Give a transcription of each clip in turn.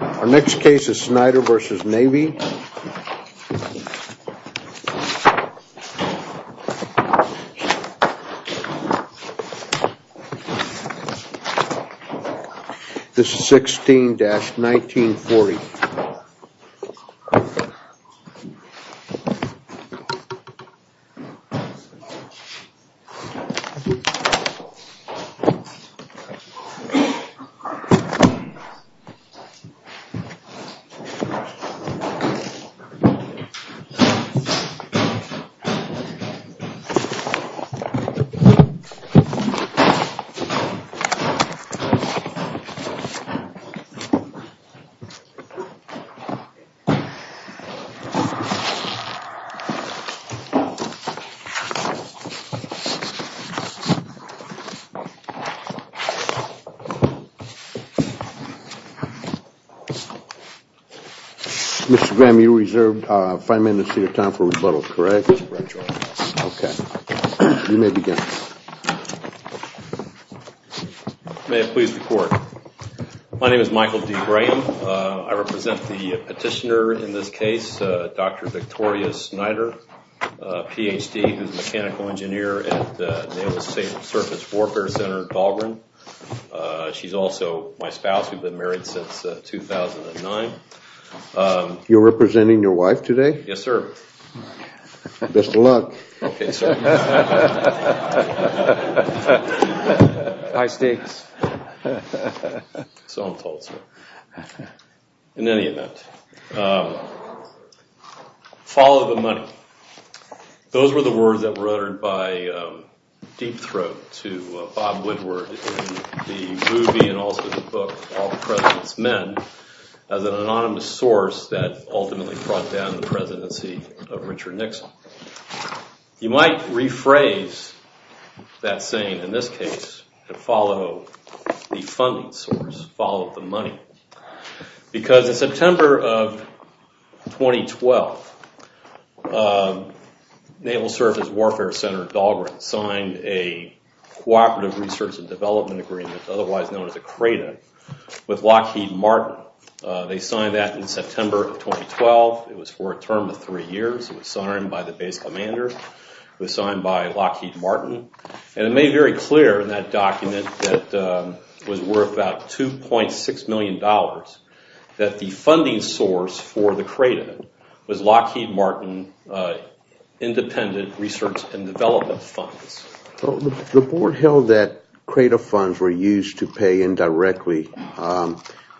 Our next case is Snyder v. Navy. This is 16-1940. This is 16-1940. Mr. Graham, you reserved five minutes of your time for rebuttal, correct? That's correct, Your Honor. Okay. You may begin. May it please the Court. My name is Michael D. Graham. I represent the petitioner in this case, Dr. Victoria Snyder, Ph.D., who is a mechanical engineer at Naval Surface Warfare Center, Dahlgren. She's also my spouse. We've been married since 2009. You're representing your wife today? Yes, sir. Best of luck. Okay, sir. High stakes. So I'm told, sir. In any event, follow the money. Those were the words that were uttered by Deep Throat to Bob Woodward in the movie and also the book, All President's Men, as an anonymous source that ultimately brought down the presidency of Richard Nixon. You might rephrase that saying in this case to follow the funding source, follow the money, because in September of 2012, Naval Surface Warfare Center, Dahlgren, signed a Cooperative Research and Development Agreement, otherwise known as a CRADA, with Lockheed Martin. They signed that in September of 2012. It was for a term of three years. It was signed by the base commander. It was signed by Lockheed Martin. It made very clear in that document that it was worth about $2.6 million that the funding source for the CRADA was Lockheed Martin Independent Research and Development Funds. The board held that CRADA funds were used to pay indirectly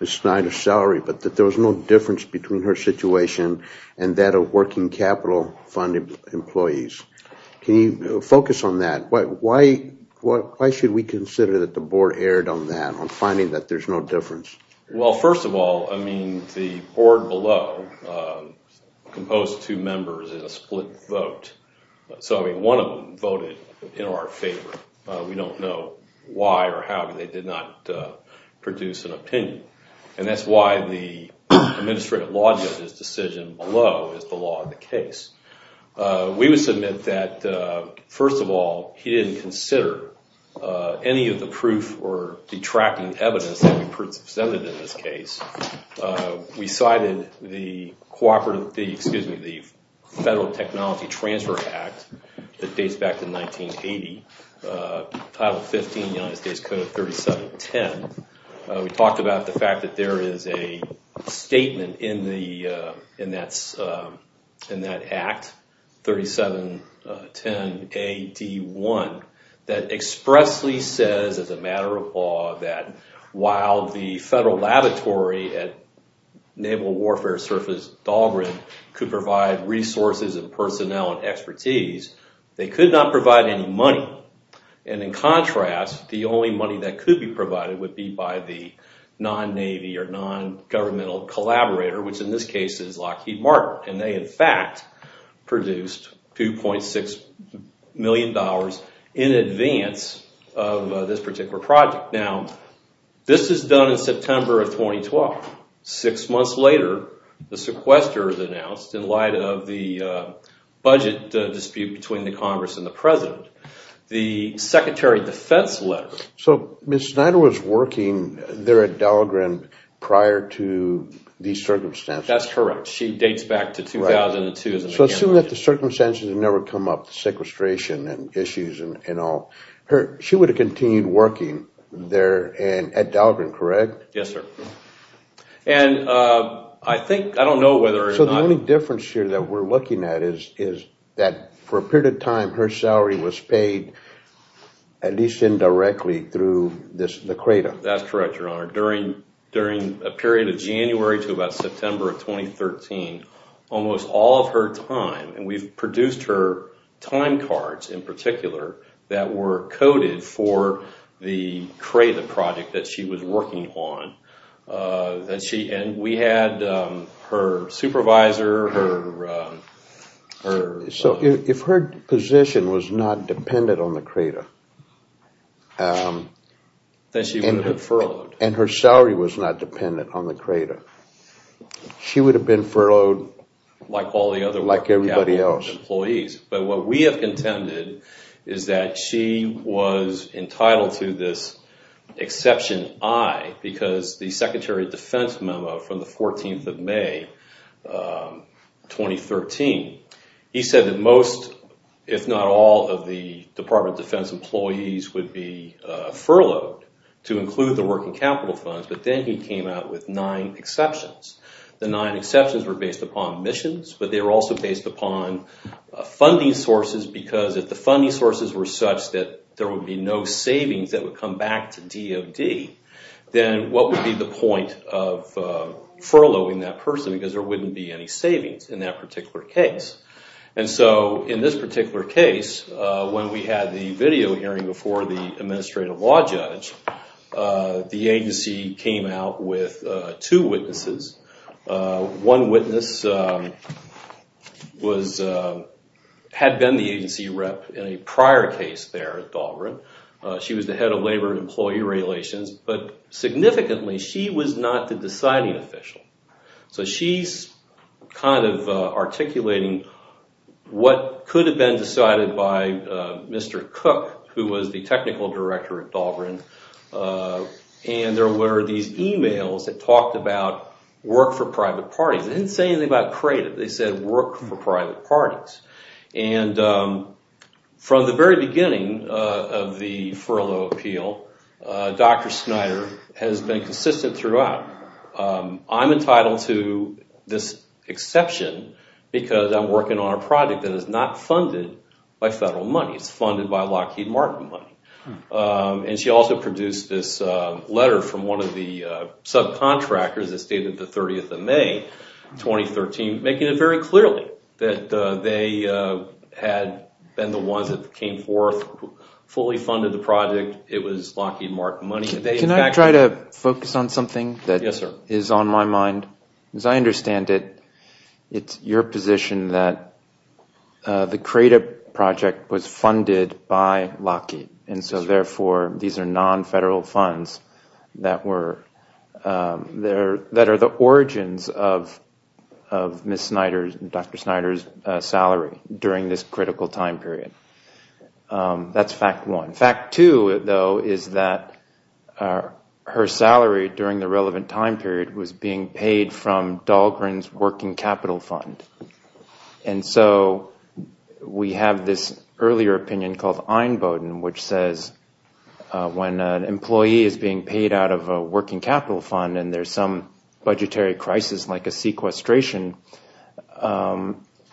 Ms. Snyder's salary but that there was no difference between her situation and that of working capital fund employees. Can you focus on that? Why should we consider that the board erred on that, on finding that there's no difference? First of all, the board below composed two members in a split vote. One of them voted in our favor. We don't know why or how they did not produce an opinion. That's why the administrative law judge's decision below is the law of the case. We would submit that, first of all, he didn't consider any of the proof or detracting evidence that we presented in this case. We cited the Federal Technology Transfer Act that dates back to 1980, Title 15, United States Code of 3710. We talked about the fact that there is a statement in that act, 3710AD1, that expressly says, as a matter of law, that while the Federal Laboratory at Naval Warfare Service Dahlgren could provide resources and personnel and expertise, they could not provide any money. In contrast, the only money that could be provided would be by the non-Navy or non-governmental collaborator, which in this case is Lockheed Martin. They, in fact, produced $2.6 million in advance of this particular project. Now, this is done in September of 2012. Six months later, the sequester is announced in light of the budget dispute between the Congress and the President. The Secretary of Defense letter… So Ms. Snyder was working there at Dahlgren prior to these circumstances. That's correct. She dates back to 2002. So assume that the circumstances never come up, the sequestration and issues and all. She would have continued working there at Dahlgren, correct? Yes, sir. And I think, I don't know whether or not… So the only difference here that we're looking at is that for a period of time, her salary was paid, at least indirectly, through the CRADA. That's correct, Your Honor. During a period of January to about September of 2013, almost all of her time, and we've produced her time cards in particular that were coded for the CRADA project that she was working on. And we had her supervisor, her… So if her position was not dependent on the CRADA… Then she would have been furloughed. And her salary was not dependent on the CRADA. She would have been furloughed like everybody else. But what we have contended is that she was entitled to this exception I because the Secretary of Defense memo from the 14th of May 2013, he said that most, if not all, of the Department of Defense employees would be furloughed to include the working capital funds. But then he came out with nine exceptions. The nine exceptions were based upon emissions, but they were also based upon funding sources because if the funding sources were such that there would be no savings that would come back to DOD, then what would be the point of furloughing that person because there wouldn't be any savings in that particular case. And so in this particular case, when we had the video hearing before the Administrative Law Judge, the agency came out with two witnesses. One witness had been the agency rep in a prior case there at Dahlgren. She was the head of Labor and Employee Relations. But significantly, she was not the deciding official. So she's kind of articulating what could have been decided by Mr. Cook, who was the technical director at Dahlgren. And there were these emails that talked about work for private parties. They didn't say anything about CRADA. They said work for private parties. And from the very beginning of the furlough appeal, Dr. Snyder has been consistent throughout. I'm entitled to this exception because I'm working on a project that is not funded by federal money. It's funded by Lockheed Martin money. And she also produced this letter from one of the subcontractors that stated the 30th of May, 2013, making it very clearly that they had been the ones that came forth, fully funded the project. It was Lockheed Martin money. Can I try to focus on something that is on my mind? Yes, sir. As I understand it, it's your position that the CRADA project was funded by Lockheed. And so, therefore, these are non-federal funds that are the origins of Ms. Snyder's and Dr. Snyder's salary during this critical time period. That's fact one. Fact two, though, is that her salary during the relevant time period was being paid from Dahlgren's working capital fund. And so we have this earlier opinion called Einboden, which says when an employee is being paid out of a working capital fund and there's some budgetary crisis like a sequestration,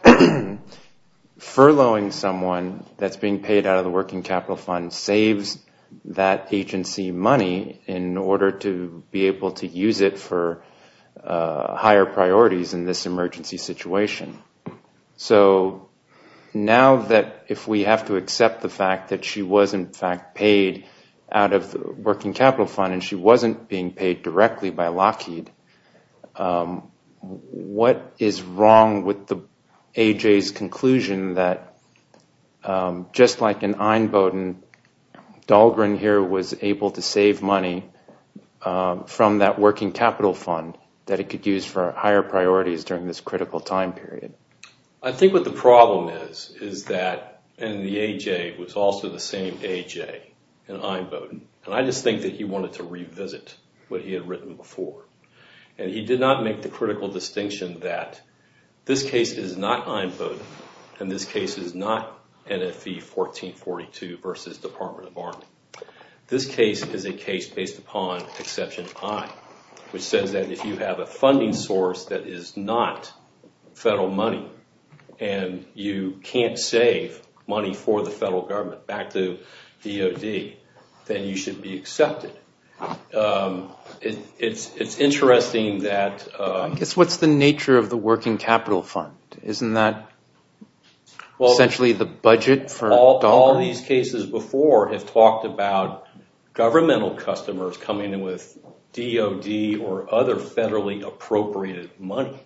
furloughing someone that's being paid out of the working capital fund saves that agency money in order to be able to use it for higher priorities in this emergency situation. So now that if we have to accept the fact that she was, in fact, paid out of the working capital fund and she wasn't being paid directly by Lockheed, what is wrong with the AJ's conclusion that, just like in Einboden, Dahlgren here was able to save money from that working capital fund that he could use for higher priorities during this critical time period? I think what the problem is is that, and the AJ was also the same AJ in Einboden, and I just think that he wanted to revisit what he had written before. And he did not make the critical distinction that this case is not Einboden and this case is not NFV 1442 versus Department of Army. This case is a case based upon Exception I, which says that if you have a funding source that is not federal money and you can't save money for the federal government back to DOD, then you should be accepted. It's interesting that— I guess what's the nature of the working capital fund? Isn't that essentially the budget for Dahlgren? All these cases before have talked about governmental customers coming in with DOD or other federally appropriated money.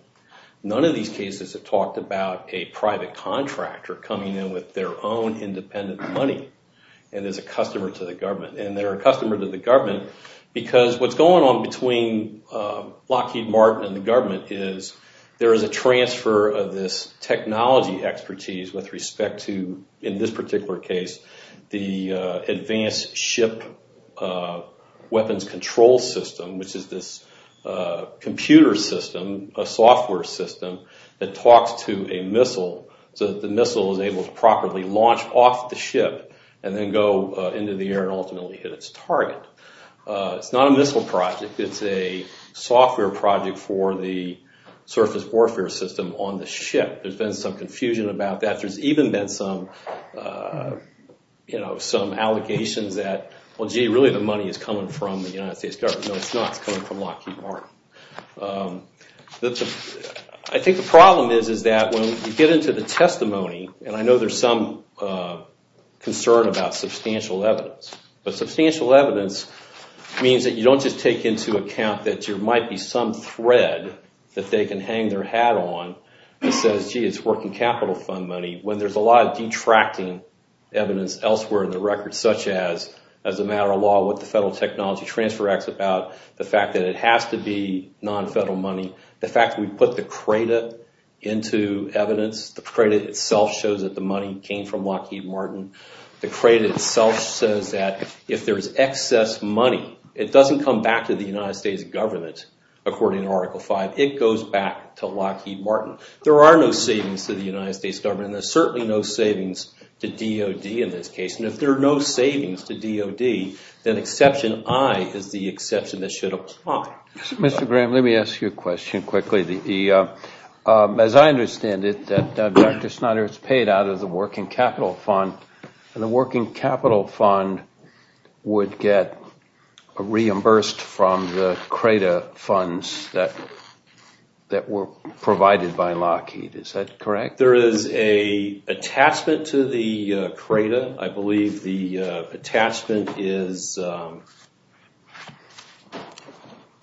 None of these cases have talked about a private contractor coming in with their own independent money and is a customer to the government. And they're a customer to the government because what's going on between Lockheed Martin and the government is there is a transfer of this technology expertise with respect to, in this particular case, the advanced ship weapons control system, which is this computer system, a software system that talks to a missile so that the missile is able to properly launch off the ship and then go into the air and ultimately hit its target. It's not a missile project. It's a software project for the surface warfare system on the ship. There's been some confusion about that. There's even been some allegations that, well, gee, really the money is coming from the United States government. No, it's not. It's coming from Lockheed Martin. I think the problem is that when you get into the testimony, and I know there's some concern about substantial evidence, but substantial evidence means that you don't just take into account that there might be some thread that they can hang their hat on and say, gee, it's working capital fund money, when there's a lot of detracting evidence elsewhere in the record, such as as a matter of law, what the Federal Technology Transfer Act is about, the fact that it has to be non-federal money, the fact that we put the CRADA into evidence. The CRADA itself shows that the money came from Lockheed Martin. The CRADA itself says that if there's excess money, it doesn't come back to the United States government, according to Article 5. It goes back to Lockheed Martin. There are no savings to the United States government, and there's certainly no savings to DOD in this case. And if there are no savings to DOD, then Exception I is the exception that should apply. Mr. Graham, let me ask you a question quickly. As I understand it, Dr. Snyder, it's paid out of the working capital fund, and the working capital fund would get reimbursed from the CRADA funds that were provided by Lockheed. Is that correct? There is an attachment to the CRADA. I believe the attachment is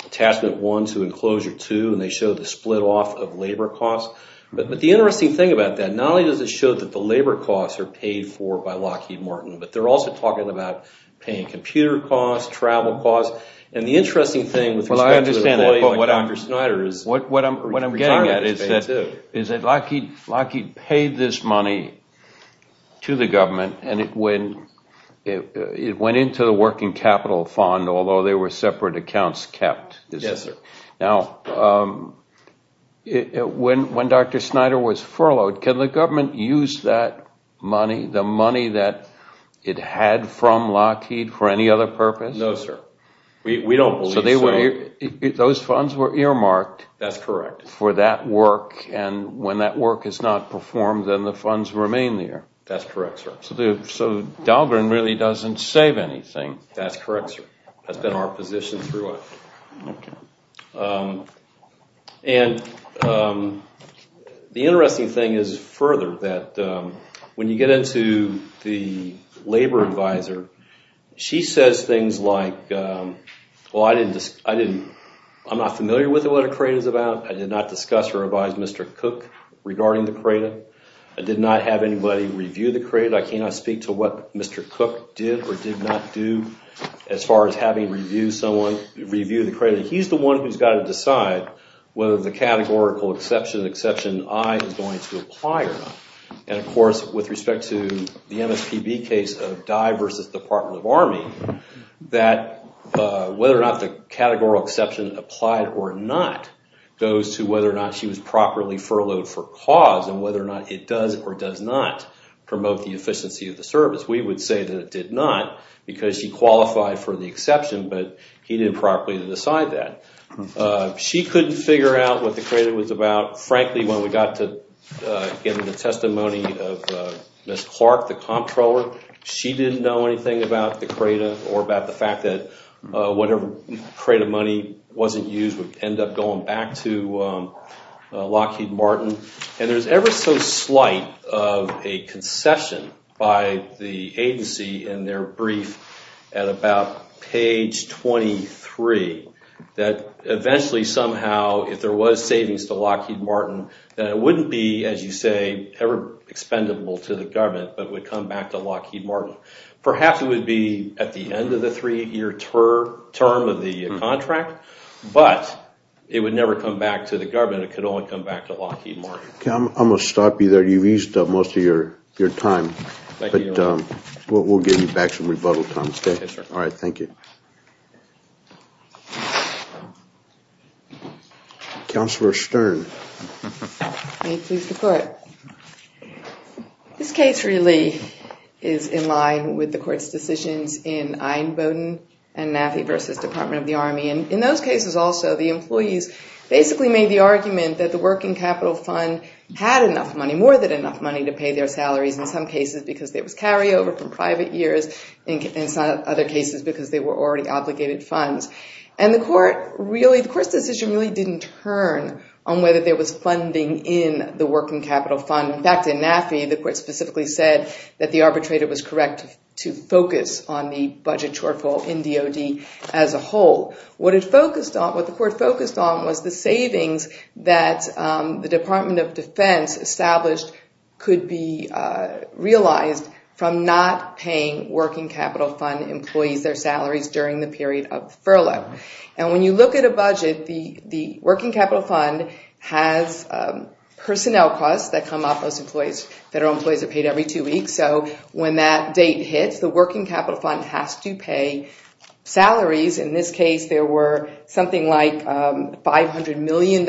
Attachment 1 to Enclosure 2, and they show the split off of labor costs. But the interesting thing about that, not only does it show that the labor costs are paid for by Lockheed Martin, but they're also talking about paying computer costs, travel costs. Well, I understand that, but what I'm getting at is that Lockheed paid this money to the government, and it went into the working capital fund, although there were separate accounts kept. Yes, sir. Now, when Dr. Snyder was furloughed, can the government use that money, the money that it had from Lockheed, for any other purpose? No, sir. We don't believe so. So those funds were earmarked for that work, and when that work is not performed, then the funds remain there. That's correct, sir. So Dahlgren really doesn't save anything. That's correct, sir. That's been our position throughout. And the interesting thing is, further, that when you get into the labor advisor, she says things like, well, I'm not familiar with what a CRADA is about. I did not discuss or advise Mr. Cook regarding the CRADA. I did not have anybody review the CRADA. I cannot speak to what Mr. Cook did or did not do as far as having reviewed the CRADA. He's the one who's got to decide whether the categorical exception, Exception I, is going to apply or not. And, of course, with respect to the MSPB case of Dye versus Department of Army, that whether or not the categorical exception applied or not goes to whether or not she was properly furloughed for cause and whether or not it does or does not promote the efficiency of the service. We would say that it did not because she qualified for the exception, but he didn't properly decide that. She couldn't figure out what the CRADA was about. Frankly, when we got to getting the testimony of Ms. Clark, the comptroller, she didn't know anything about the CRADA or about the fact that whatever CRADA money wasn't used would end up going back to Lockheed Martin. And there's ever so slight of a concession by the agency in their brief at about page 23 that eventually somehow, if there was savings to Lockheed Martin, that it wouldn't be, as you say, ever expendable to the government, but would come back to Lockheed Martin. Perhaps it would be at the end of the three-year term of the contract, but it would never come back to the government. It could only come back to Lockheed Martin. Okay, I'm going to stop you there. You've used up most of your time. Thank you, Your Honor. But we'll give you back some rebuttal time. Okay, sir. All right, thank you. Counselor Stern. May it please the Court. This case really is in line with the Court's decisions in Einboden and Naffey v. Department of the Army. And in those cases also, the employees basically made the argument that the working capital fund had enough money, more than enough money, to pay their salaries in some cases because there was carryover from private years and in some other cases because they were already obligated funds. And the Court's decision really didn't turn on whether there was funding in the working capital fund. In fact, in Naffey, the Court specifically said that the arbitrator was correct to focus on the budget shortfall in DOD as a whole. What it focused on, what the Court focused on was the savings that the Department of Defense established could be realized from not paying working capital fund employees their salaries during the period of furlough. And when you look at a budget, the working capital fund has personnel costs that come off those employees. Federal employees are paid every two weeks. So when that date hits, the working capital fund has to pay salaries. In this case, there were something like $500 million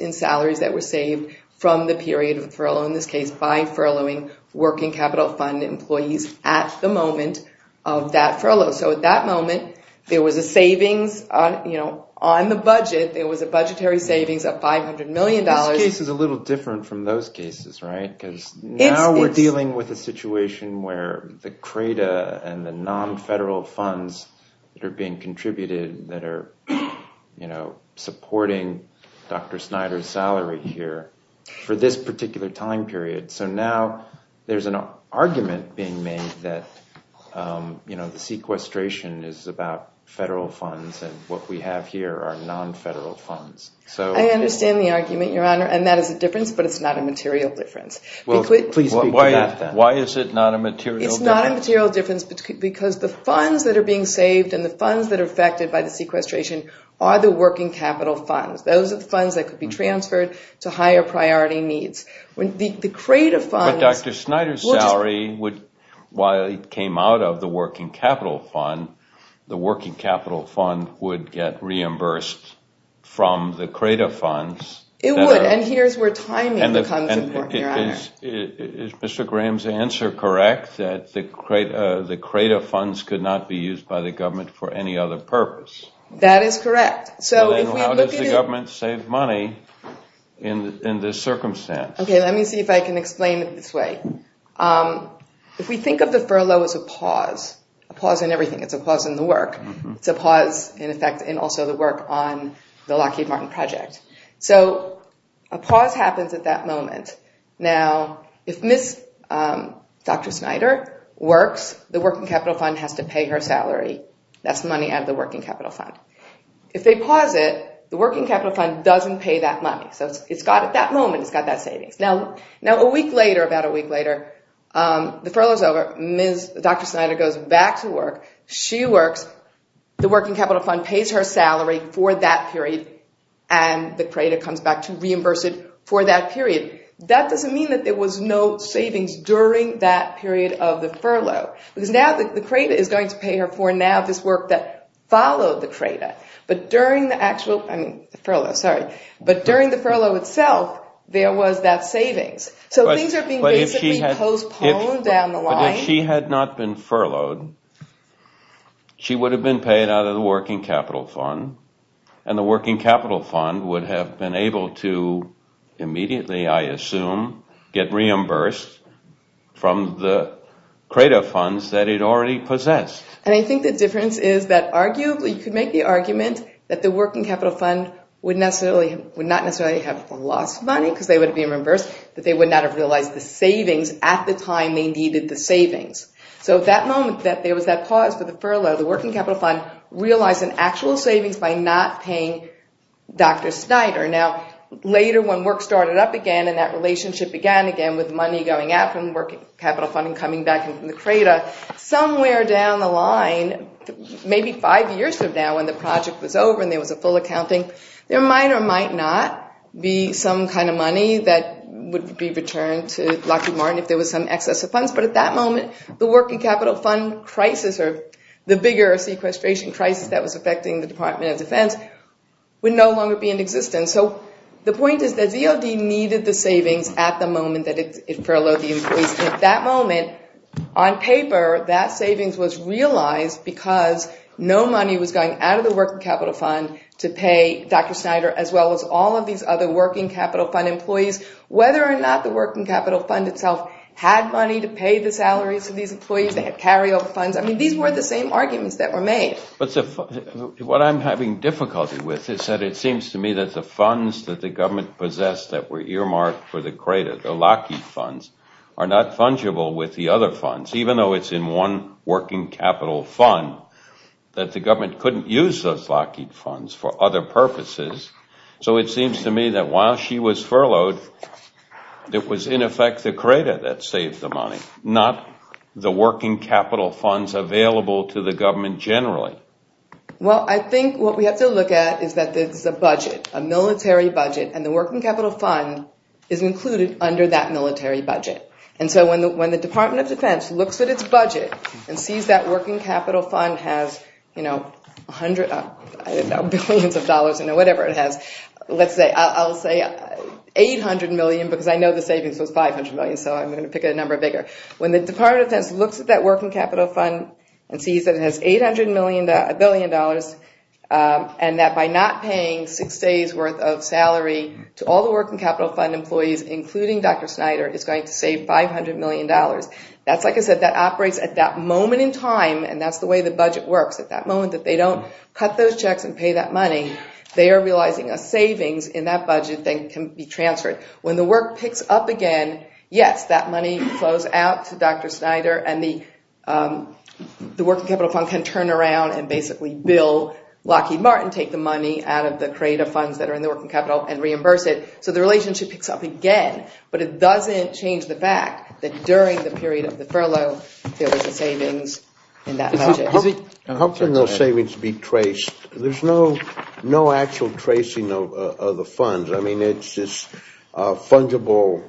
in salaries that were saved from the period of furlough, in this case by furloughing working capital fund employees at the moment of that furlough. So at that moment, there was a savings on the budget. There was a budgetary savings of $500 million. This case is a little different from those cases, right? Because now we're dealing with a situation where the CRADA and the non-federal funds that are being contributed, that are supporting Dr. Snyder's salary here for this particular time period. So now there's an argument being made that the sequestration is about federal funds and what we have here are non-federal funds. I understand the argument, Your Honor, and that is a difference, but it's not a material difference. Well, please speak to that then. Why is it not a material difference? It's not a material difference because the funds that are being saved and the funds that are affected by the sequestration are the working capital funds. Those are the funds that could be transferred to higher priority needs. But Dr. Snyder's salary, while it came out of the working capital fund, the working capital fund would get reimbursed from the CRADA funds. It would, and here's where timing becomes important, Your Honor. Is Mr. Graham's answer correct, that the CRADA funds could not be used by the government for any other purpose? That is correct. Then how does the government save money in this circumstance? Okay, let me see if I can explain it this way. If we think of the furlough as a pause, a pause in everything, it's a pause in the work. It's a pause, in effect, in also the work on the Lockheed Martin project. So a pause happens at that moment. Now, if Ms. Dr. Snyder works, the working capital fund has to pay her salary. That's money out of the working capital fund. If they pause it, the working capital fund doesn't pay that money. So it's got, at that moment, it's got that savings. Now, a week later, about a week later, the furlough's over. Ms. Dr. Snyder goes back to work. She works. The working capital fund pays her salary for that period, and the CRADA comes back to reimburse it for that period. That doesn't mean that there was no savings during that period of the furlough, because now the CRADA is going to pay her for now this work that followed the CRADA. But during the actual, I mean, the furlough, sorry. But during the furlough itself, there was that savings. So things are being basically postponed down the line. But if she had not been furloughed, she would have been paid out of the working capital fund, and the working capital fund would have been able to immediately, I assume, get reimbursed from the CRADA funds that it already possessed. And I think the difference is that arguably, she could make the argument that the working capital fund would not necessarily have lost money because they would have been reimbursed, that they would not have realized the savings at the time they needed the savings. So at that moment that there was that pause for the furlough, the working capital fund realized an actual savings by not paying Dr. Snyder. Now, later when work started up again and that relationship began again with money going out from the working capital fund and coming back from the CRADA, somewhere down the line, maybe five years from now when the project was over and there was a full accounting, there might or might not be some kind of money that would be returned to Lockheed Martin if there was some excess of funds. But at that moment, the working capital fund crisis or the bigger sequestration crisis that was affecting the Department of Defense would no longer be in existence. So the point is that ZOD needed the savings at the moment that it furloughed the employees. At that moment, on paper, that savings was realized because no money was going out of the working capital fund to pay Dr. Snyder as well as all of these other working capital fund employees. Whether or not the working capital fund itself had money to pay the salaries of these employees, they had carryover funds, I mean, these were the same arguments that were made. What I'm having difficulty with is that it seems to me that the funds that the government possessed that were earmarked for the crater, the Lockheed funds, are not fungible with the other funds, even though it's in one working capital fund, that the government couldn't use those Lockheed funds for other purposes. So it seems to me that while she was furloughed, it was in effect the crater that saved the money, not the working capital funds available to the government generally. Well, I think what we have to look at is that there's a budget, a military budget, and the working capital fund is included under that military budget. And so when the Department of Defense looks at its budget and sees that working capital fund has, you know, billions of dollars in it, whatever it has, let's say, I'll say $800 million, because I know the savings was $500 million, so I'm going to pick a number bigger. When the Department of Defense looks at that working capital fund and sees that it has $800 million, and that by not paying six days' worth of salary to all the working capital fund employees, including Dr. Snyder, it's going to save $500 million. That's like I said, that operates at that moment in time, and that's the way the budget works. At that moment that they don't cut those checks and pay that money, they are realizing a savings in that budget that can be transferred. When the work picks up again, yes, that money flows out to Dr. Snyder, and the working capital fund can turn around and basically bill Lockheed Martin, take the money out of the crate of funds that are in the working capital and reimburse it. So the relationship picks up again, but it doesn't change the fact that during the period of the furlough, there was a savings in that budget. How can those savings be traced? There's no actual tracing of the funds. I mean, it's just a fungible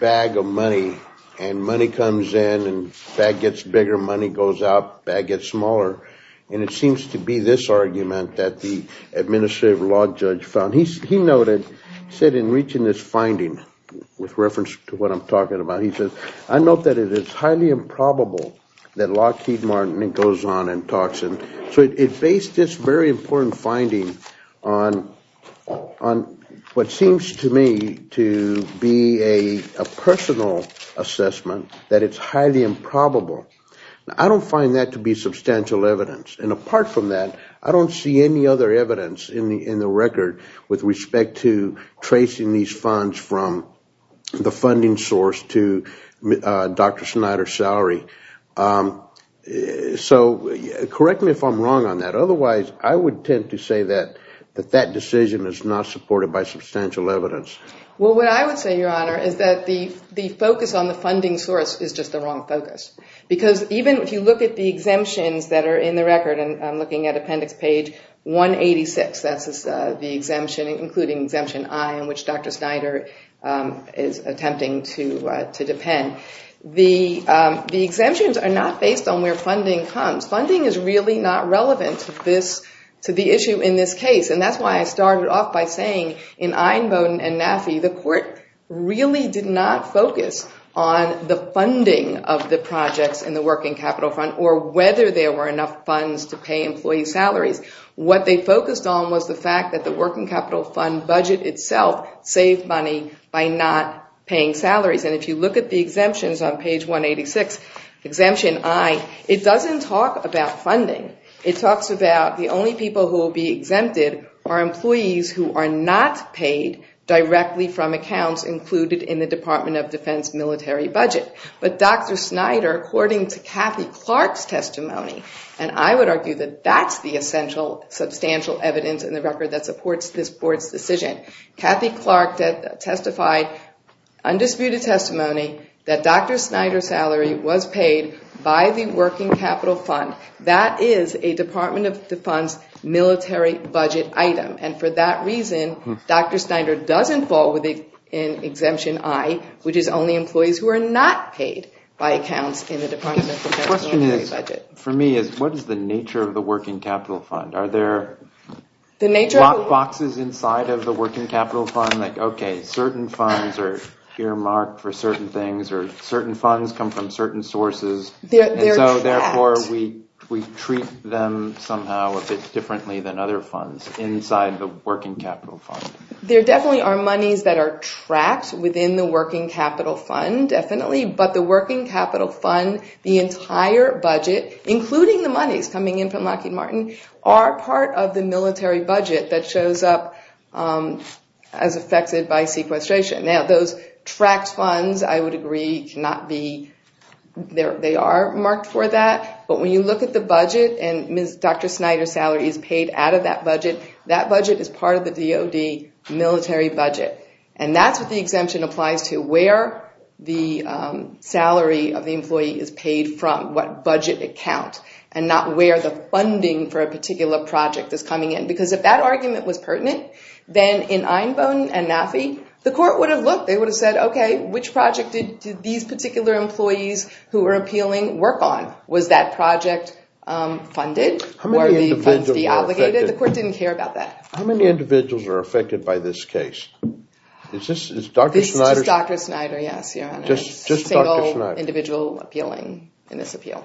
bag of money, and money comes in and the bag gets bigger. Money goes out, the bag gets smaller, and it seems to be this argument that the administrative law judge found. He noted, he said in reaching this finding with reference to what I'm talking about, he says, I note that it is highly improbable that Lockheed Martin goes on and talks. It based this very important finding on what seems to me to be a personal assessment that it's highly improbable. I don't find that to be substantial evidence, and apart from that, I don't see any other evidence in the record with respect to tracing these funds from the funding source to Dr. Snyder's salary. So correct me if I'm wrong on that. Otherwise, I would tend to say that that decision is not supported by substantial evidence. Well, what I would say, Your Honor, is that the focus on the funding source is just the wrong focus. Because even if you look at the exemptions that are in the record, and I'm looking at Appendix Page 186, that's the exemption, including Exemption I, in which Dr. Snyder is attempting to depend. The exemptions are not based on where funding comes. Funding is really not relevant to the issue in this case. And that's why I started off by saying in Einboden and Nafee, the court really did not focus on the funding of the projects in the Working Capital Fund or whether there were enough funds to pay employee salaries. What they focused on was the fact that the Working Capital Fund budget itself saved money by not paying salaries. And if you look at the exemptions on Page 186, Exemption I, it doesn't talk about funding. It talks about the only people who will be exempted are employees who are not paid directly from accounts included in the Department of Defense military budget. But Dr. Snyder, according to Kathy Clark's testimony, and I would argue that that's the essential substantial evidence in the record that supports this Court's decision. Kathy Clark testified, undisputed testimony, that Dr. Snyder's salary was paid by the Working Capital Fund. That is a Department of Defense military budget item. And for that reason, Dr. Snyder doesn't fall within Exemption I, which is only employees who are not paid by accounts in the Department of Defense military budget. The question for me is, what is the nature of the Working Capital Fund? Are there boxes inside of the Working Capital Fund? Like, OK, certain funds are earmarked for certain things, or certain funds come from certain sources. And so therefore, we treat them somehow a bit differently than other funds inside the Working Capital Fund. There definitely are monies that are trapped within the Working Capital Fund, definitely. But the Working Capital Fund, the entire budget, including the monies coming in from Lockheed Martin, are part of the military budget that shows up as affected by sequestration. Now, those tracked funds, I would agree, they are marked for that. But when you look at the budget, and Dr. Snyder's salary is paid out of that budget, that budget is part of the DoD military budget. And that's what the exemption applies to, where the salary of the employee is paid from, what budget account, and not where the funding for a particular project is coming in. Because if that argument was pertinent, then in Einbone and NAFI, the court would have looked. They would have said, OK, which project did these particular employees who were appealing work on? Was that project funded? Were the funds deobligated? The court didn't care about that. How many individuals are affected by this case? Is this Dr. Snyder? It's Dr. Snyder, yes, Your Honor. Just Dr. Snyder. A single individual appealing in this appeal.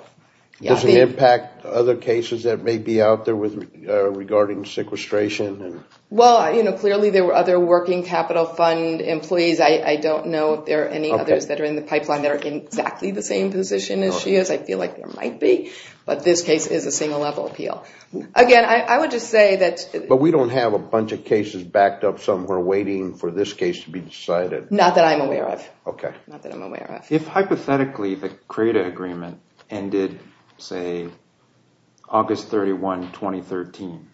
Does it impact other cases that may be out there regarding sequestration? Well, clearly there were other Working Capital Fund employees. I don't know if there are any others that are in the pipeline that are in exactly the same position as she is. I feel like there might be. But this case is a single-level appeal. Again, I would just say that— But we don't have a bunch of cases backed up somewhere waiting for this case to be decided. Not that I'm aware of. OK. Not that I'm aware of. If hypothetically the CRADA agreement ended, say, August 31, 2013,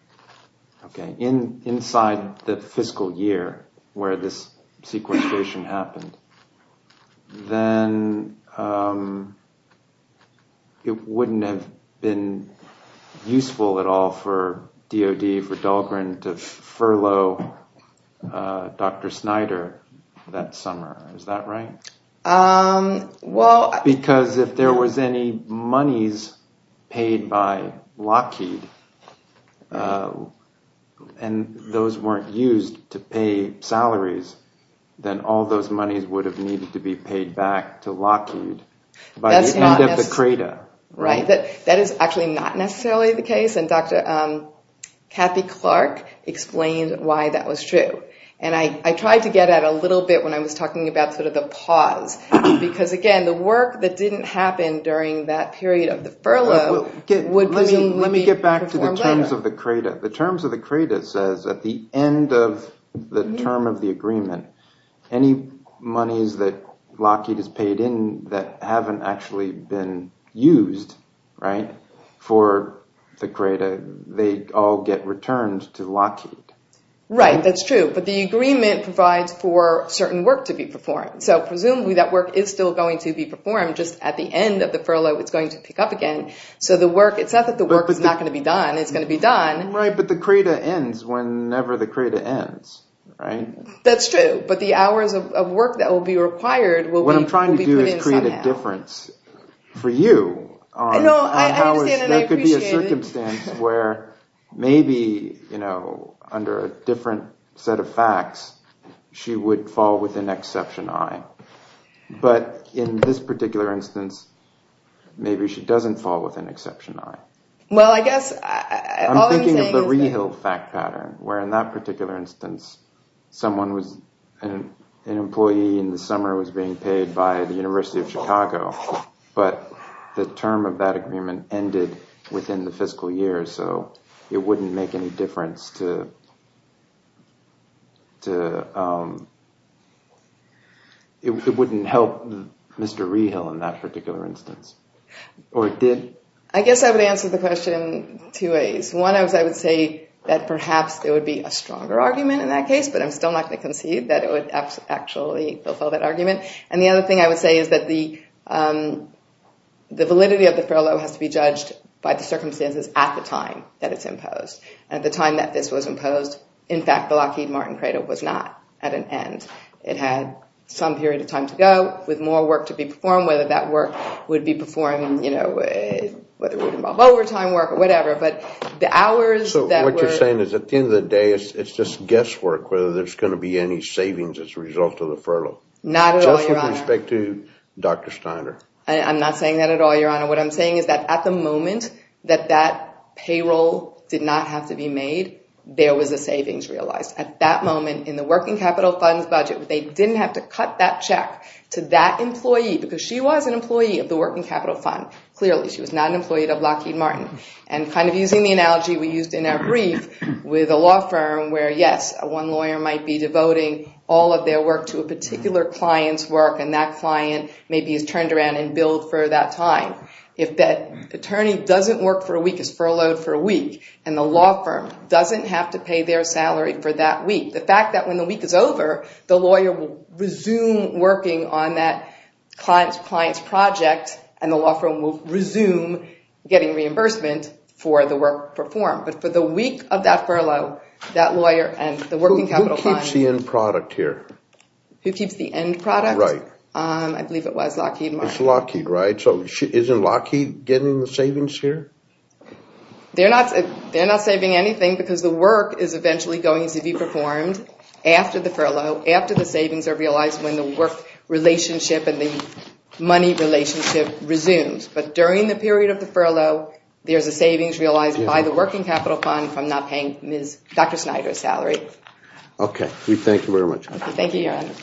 OK, inside the fiscal year where this sequestration happened, then it wouldn't have been useful at all for DOD, for Dahlgren, to furlough Dr. Snyder that summer. Is that right? Well— If there was any monies paid by Lockheed and those weren't used to pay salaries, then all those monies would have needed to be paid back to Lockheed by the end of the CRADA. Right. That is actually not necessarily the case. And Dr. Kathy Clark explained why that was true. And I tried to get at it a little bit when I was talking about sort of the pause. Because, again, the work that didn't happen during that period of the furlough would be— Let me get back to the terms of the CRADA. The terms of the CRADA says at the end of the term of the agreement, any monies that Lockheed has paid in that haven't actually been used, right, for the CRADA, they all get returned to Lockheed. Right. That's true. But the agreement provides for certain work to be performed. So presumably that work is still going to be performed just at the end of the furlough. It's going to pick up again. So the work—it's not that the work is not going to be done. It's going to be done. Right. But the CRADA ends whenever the CRADA ends, right? That's true. But the hours of work that will be required will be put in somehow. What I'm trying to do is create a difference for you. I know. I understand and I appreciate it. where maybe, you know, under a different set of facts, she would fall within Exception I. But in this particular instance, maybe she doesn't fall within Exception I. Well, I guess all I'm saying is that— I'm thinking of the rehill fact pattern, where in that particular instance, someone was—an employee in the summer was being paid by the University of Chicago, but the term of that agreement ended within the fiscal year. So it wouldn't make any difference to—it wouldn't help Mr. Rehill in that particular instance. Or it did? I guess I would answer the question two ways. One is I would say that perhaps there would be a stronger argument in that case, but I'm still not going to concede that it would actually fulfill that argument. And the other thing I would say is that the validity of the furlough has to be judged by the circumstances at the time that it's imposed. At the time that this was imposed, in fact, the Lockheed Martin cradle was not at an end. It had some period of time to go with more work to be performed, whether that work would be performed, you know, whether it would involve overtime work or whatever. But the hours that were— So what you're saying is at the end of the day, it's just guesswork whether there's going to be any savings as a result of the furlough. Not at all, Your Honor. Just with respect to Dr. Steiner. I'm not saying that at all, Your Honor. What I'm saying is that at the moment that that payroll did not have to be made, there was a savings realized. At that moment in the Working Capital Fund's budget, they didn't have to cut that check to that employee because she was an employee of the Working Capital Fund. Clearly, she was not an employee of Lockheed Martin. And kind of using the analogy we used in our brief with a law firm where, yes, one lawyer might be devoting all of their work to a particular client's work and that client maybe is turned around and billed for that time. If that attorney doesn't work for a week, is furloughed for a week, and the law firm doesn't have to pay their salary for that week, the fact that when the week is over, the lawyer will resume working on that client's project and the law firm will resume getting reimbursement for the work performed. But for the week of that furlough, that lawyer and the Working Capital Fund. Who keeps the end product here? Who keeps the end product? Right. I believe it was Lockheed Martin. It's Lockheed, right? So isn't Lockheed getting the savings here? They're not saving anything because the work is eventually going to be performed after the furlough, after the savings are realized when the work relationship and the money relationship resumes. But during the period of the furlough, there's a savings realized by the Working Capital Fund from not paying Dr. Snyder's salary. Okay. We thank you very much. Thank you, Your Honor.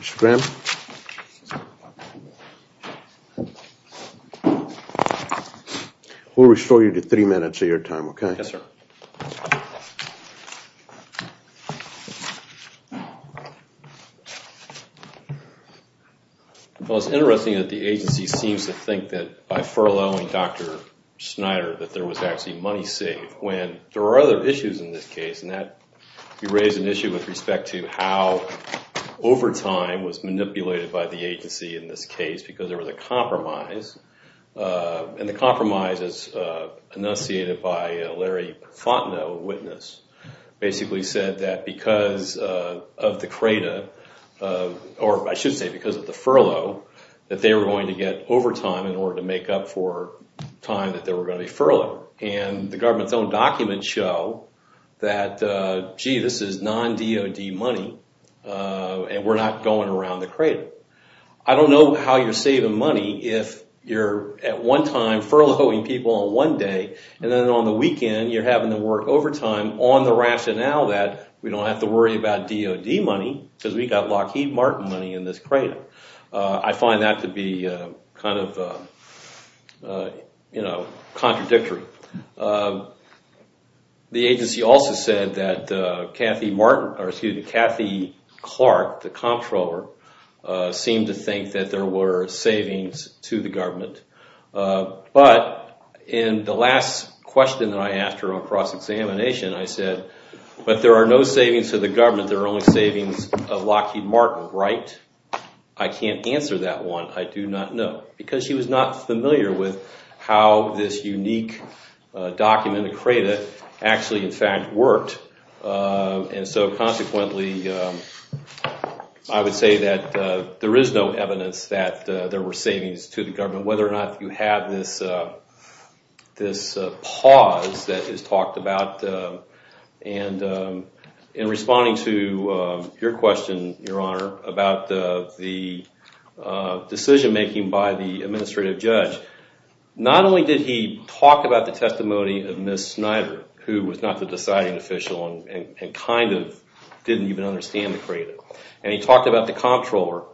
Mr. Graham? We'll restore you to three minutes of your time, okay? Yes, sir. Thank you. Well, it's interesting that the agency seems to think that by furloughing Dr. Snyder, that there was actually money saved when there were other issues in this case, and that you raise an issue with respect to how overtime was manipulated by the agency in this case because there was a compromise. And the compromise, as enunciated by Larry Fontenot, a witness, basically said that because of the CRADA, or I should say because of the furlough, that they were going to get overtime in order to make up for time that they were going to be furloughed. And the government's own documents show that, gee, this is non-DOD money, and we're not going around the CRADA. I don't know how you're saving money if you're at one time furloughing people on one day and then on the weekend you're having them work overtime on the rationale that we don't have to worry about DOD money because we've got Lockheed Martin money in this CRADA. I find that to be kind of contradictory. The agency also said that Kathy Clark, the comptroller, seemed to think that there were savings to the government. But in the last question that I asked her on cross-examination, I said, but there are no savings to the government, there are only savings of Lockheed Martin, right? I can't answer that one, I do not know. Because she was not familiar with how this unique document at CRADA actually, in fact, worked. And so, consequently, I would say that there is no evidence that there were savings to the government, whether or not you have this pause that is talked about. In responding to your question, Your Honor, about the decision-making by the administrative judge, not only did he talk about the testimony of Ms. Snyder, who was not the deciding official and kind of didn't even understand the CRADA, and he talked about the comptroller,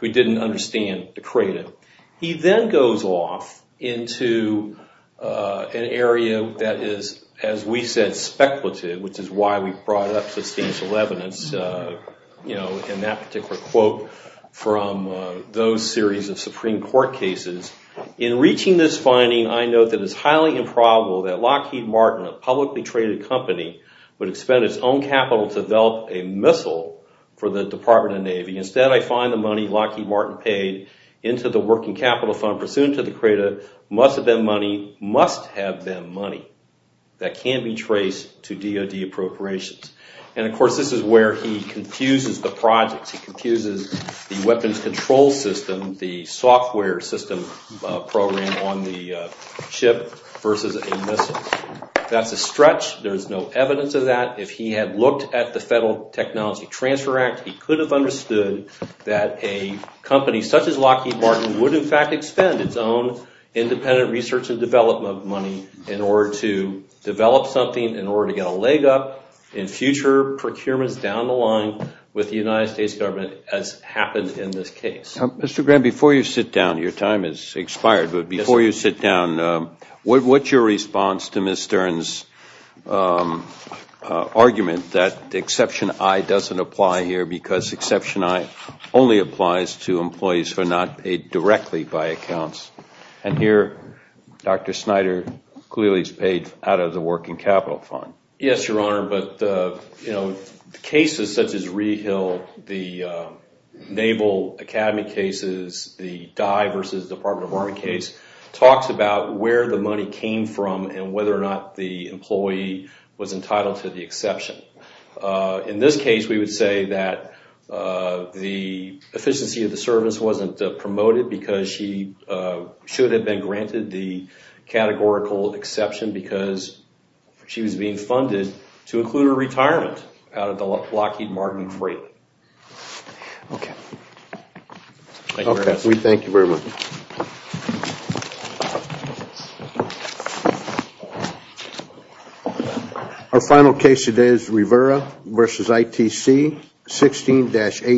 who didn't understand the CRADA, he then goes off into an area that is, as we said, speculative, which is why we brought up substantial evidence in that particular quote from those series of Supreme Court cases. In reaching this finding, I note that it is highly improbable that Lockheed Martin, a publicly traded company, would expend its own capital to develop a missile for the Department of Navy. Instead, I find the money Lockheed Martin paid into the working capital fund pursuant to the CRADA must have been money, must have been money, that can be traced to DOD appropriations. And, of course, this is where he confuses the projects. He confuses the weapons control system, the software system program on the ship versus a missile. That's a stretch. There's no evidence of that. If he had looked at the Federal Technology Transfer Act, he could have understood that a company such as Lockheed Martin would, in fact, expend its own independent research and development money in order to develop something, in order to get a leg up in future procurements down the line with the United States government, as happened in this case. Mr. Graham, before you sit down, your time has expired, but before you sit down, what's your response to Ms. Stern's argument that Exception I doesn't apply here because Exception I only applies to employees who are not paid directly by accounts? And here, Dr. Snyder clearly is paid out of the working capital fund. Yes, Your Honor, but cases such as Rehill, the Naval Academy cases, the Dye versus Department of Army case talks about where the money came from and whether or not the employee was entitled to the exception. In this case, we would say that the efficiency of the service wasn't promoted because she should have been granted the categorical exception because she was being funded to include her retirement out of the Lockheed Martin Freight. Okay. Thank you very much. We thank you very much. Our final case today is Rivera v. ITC 16-18.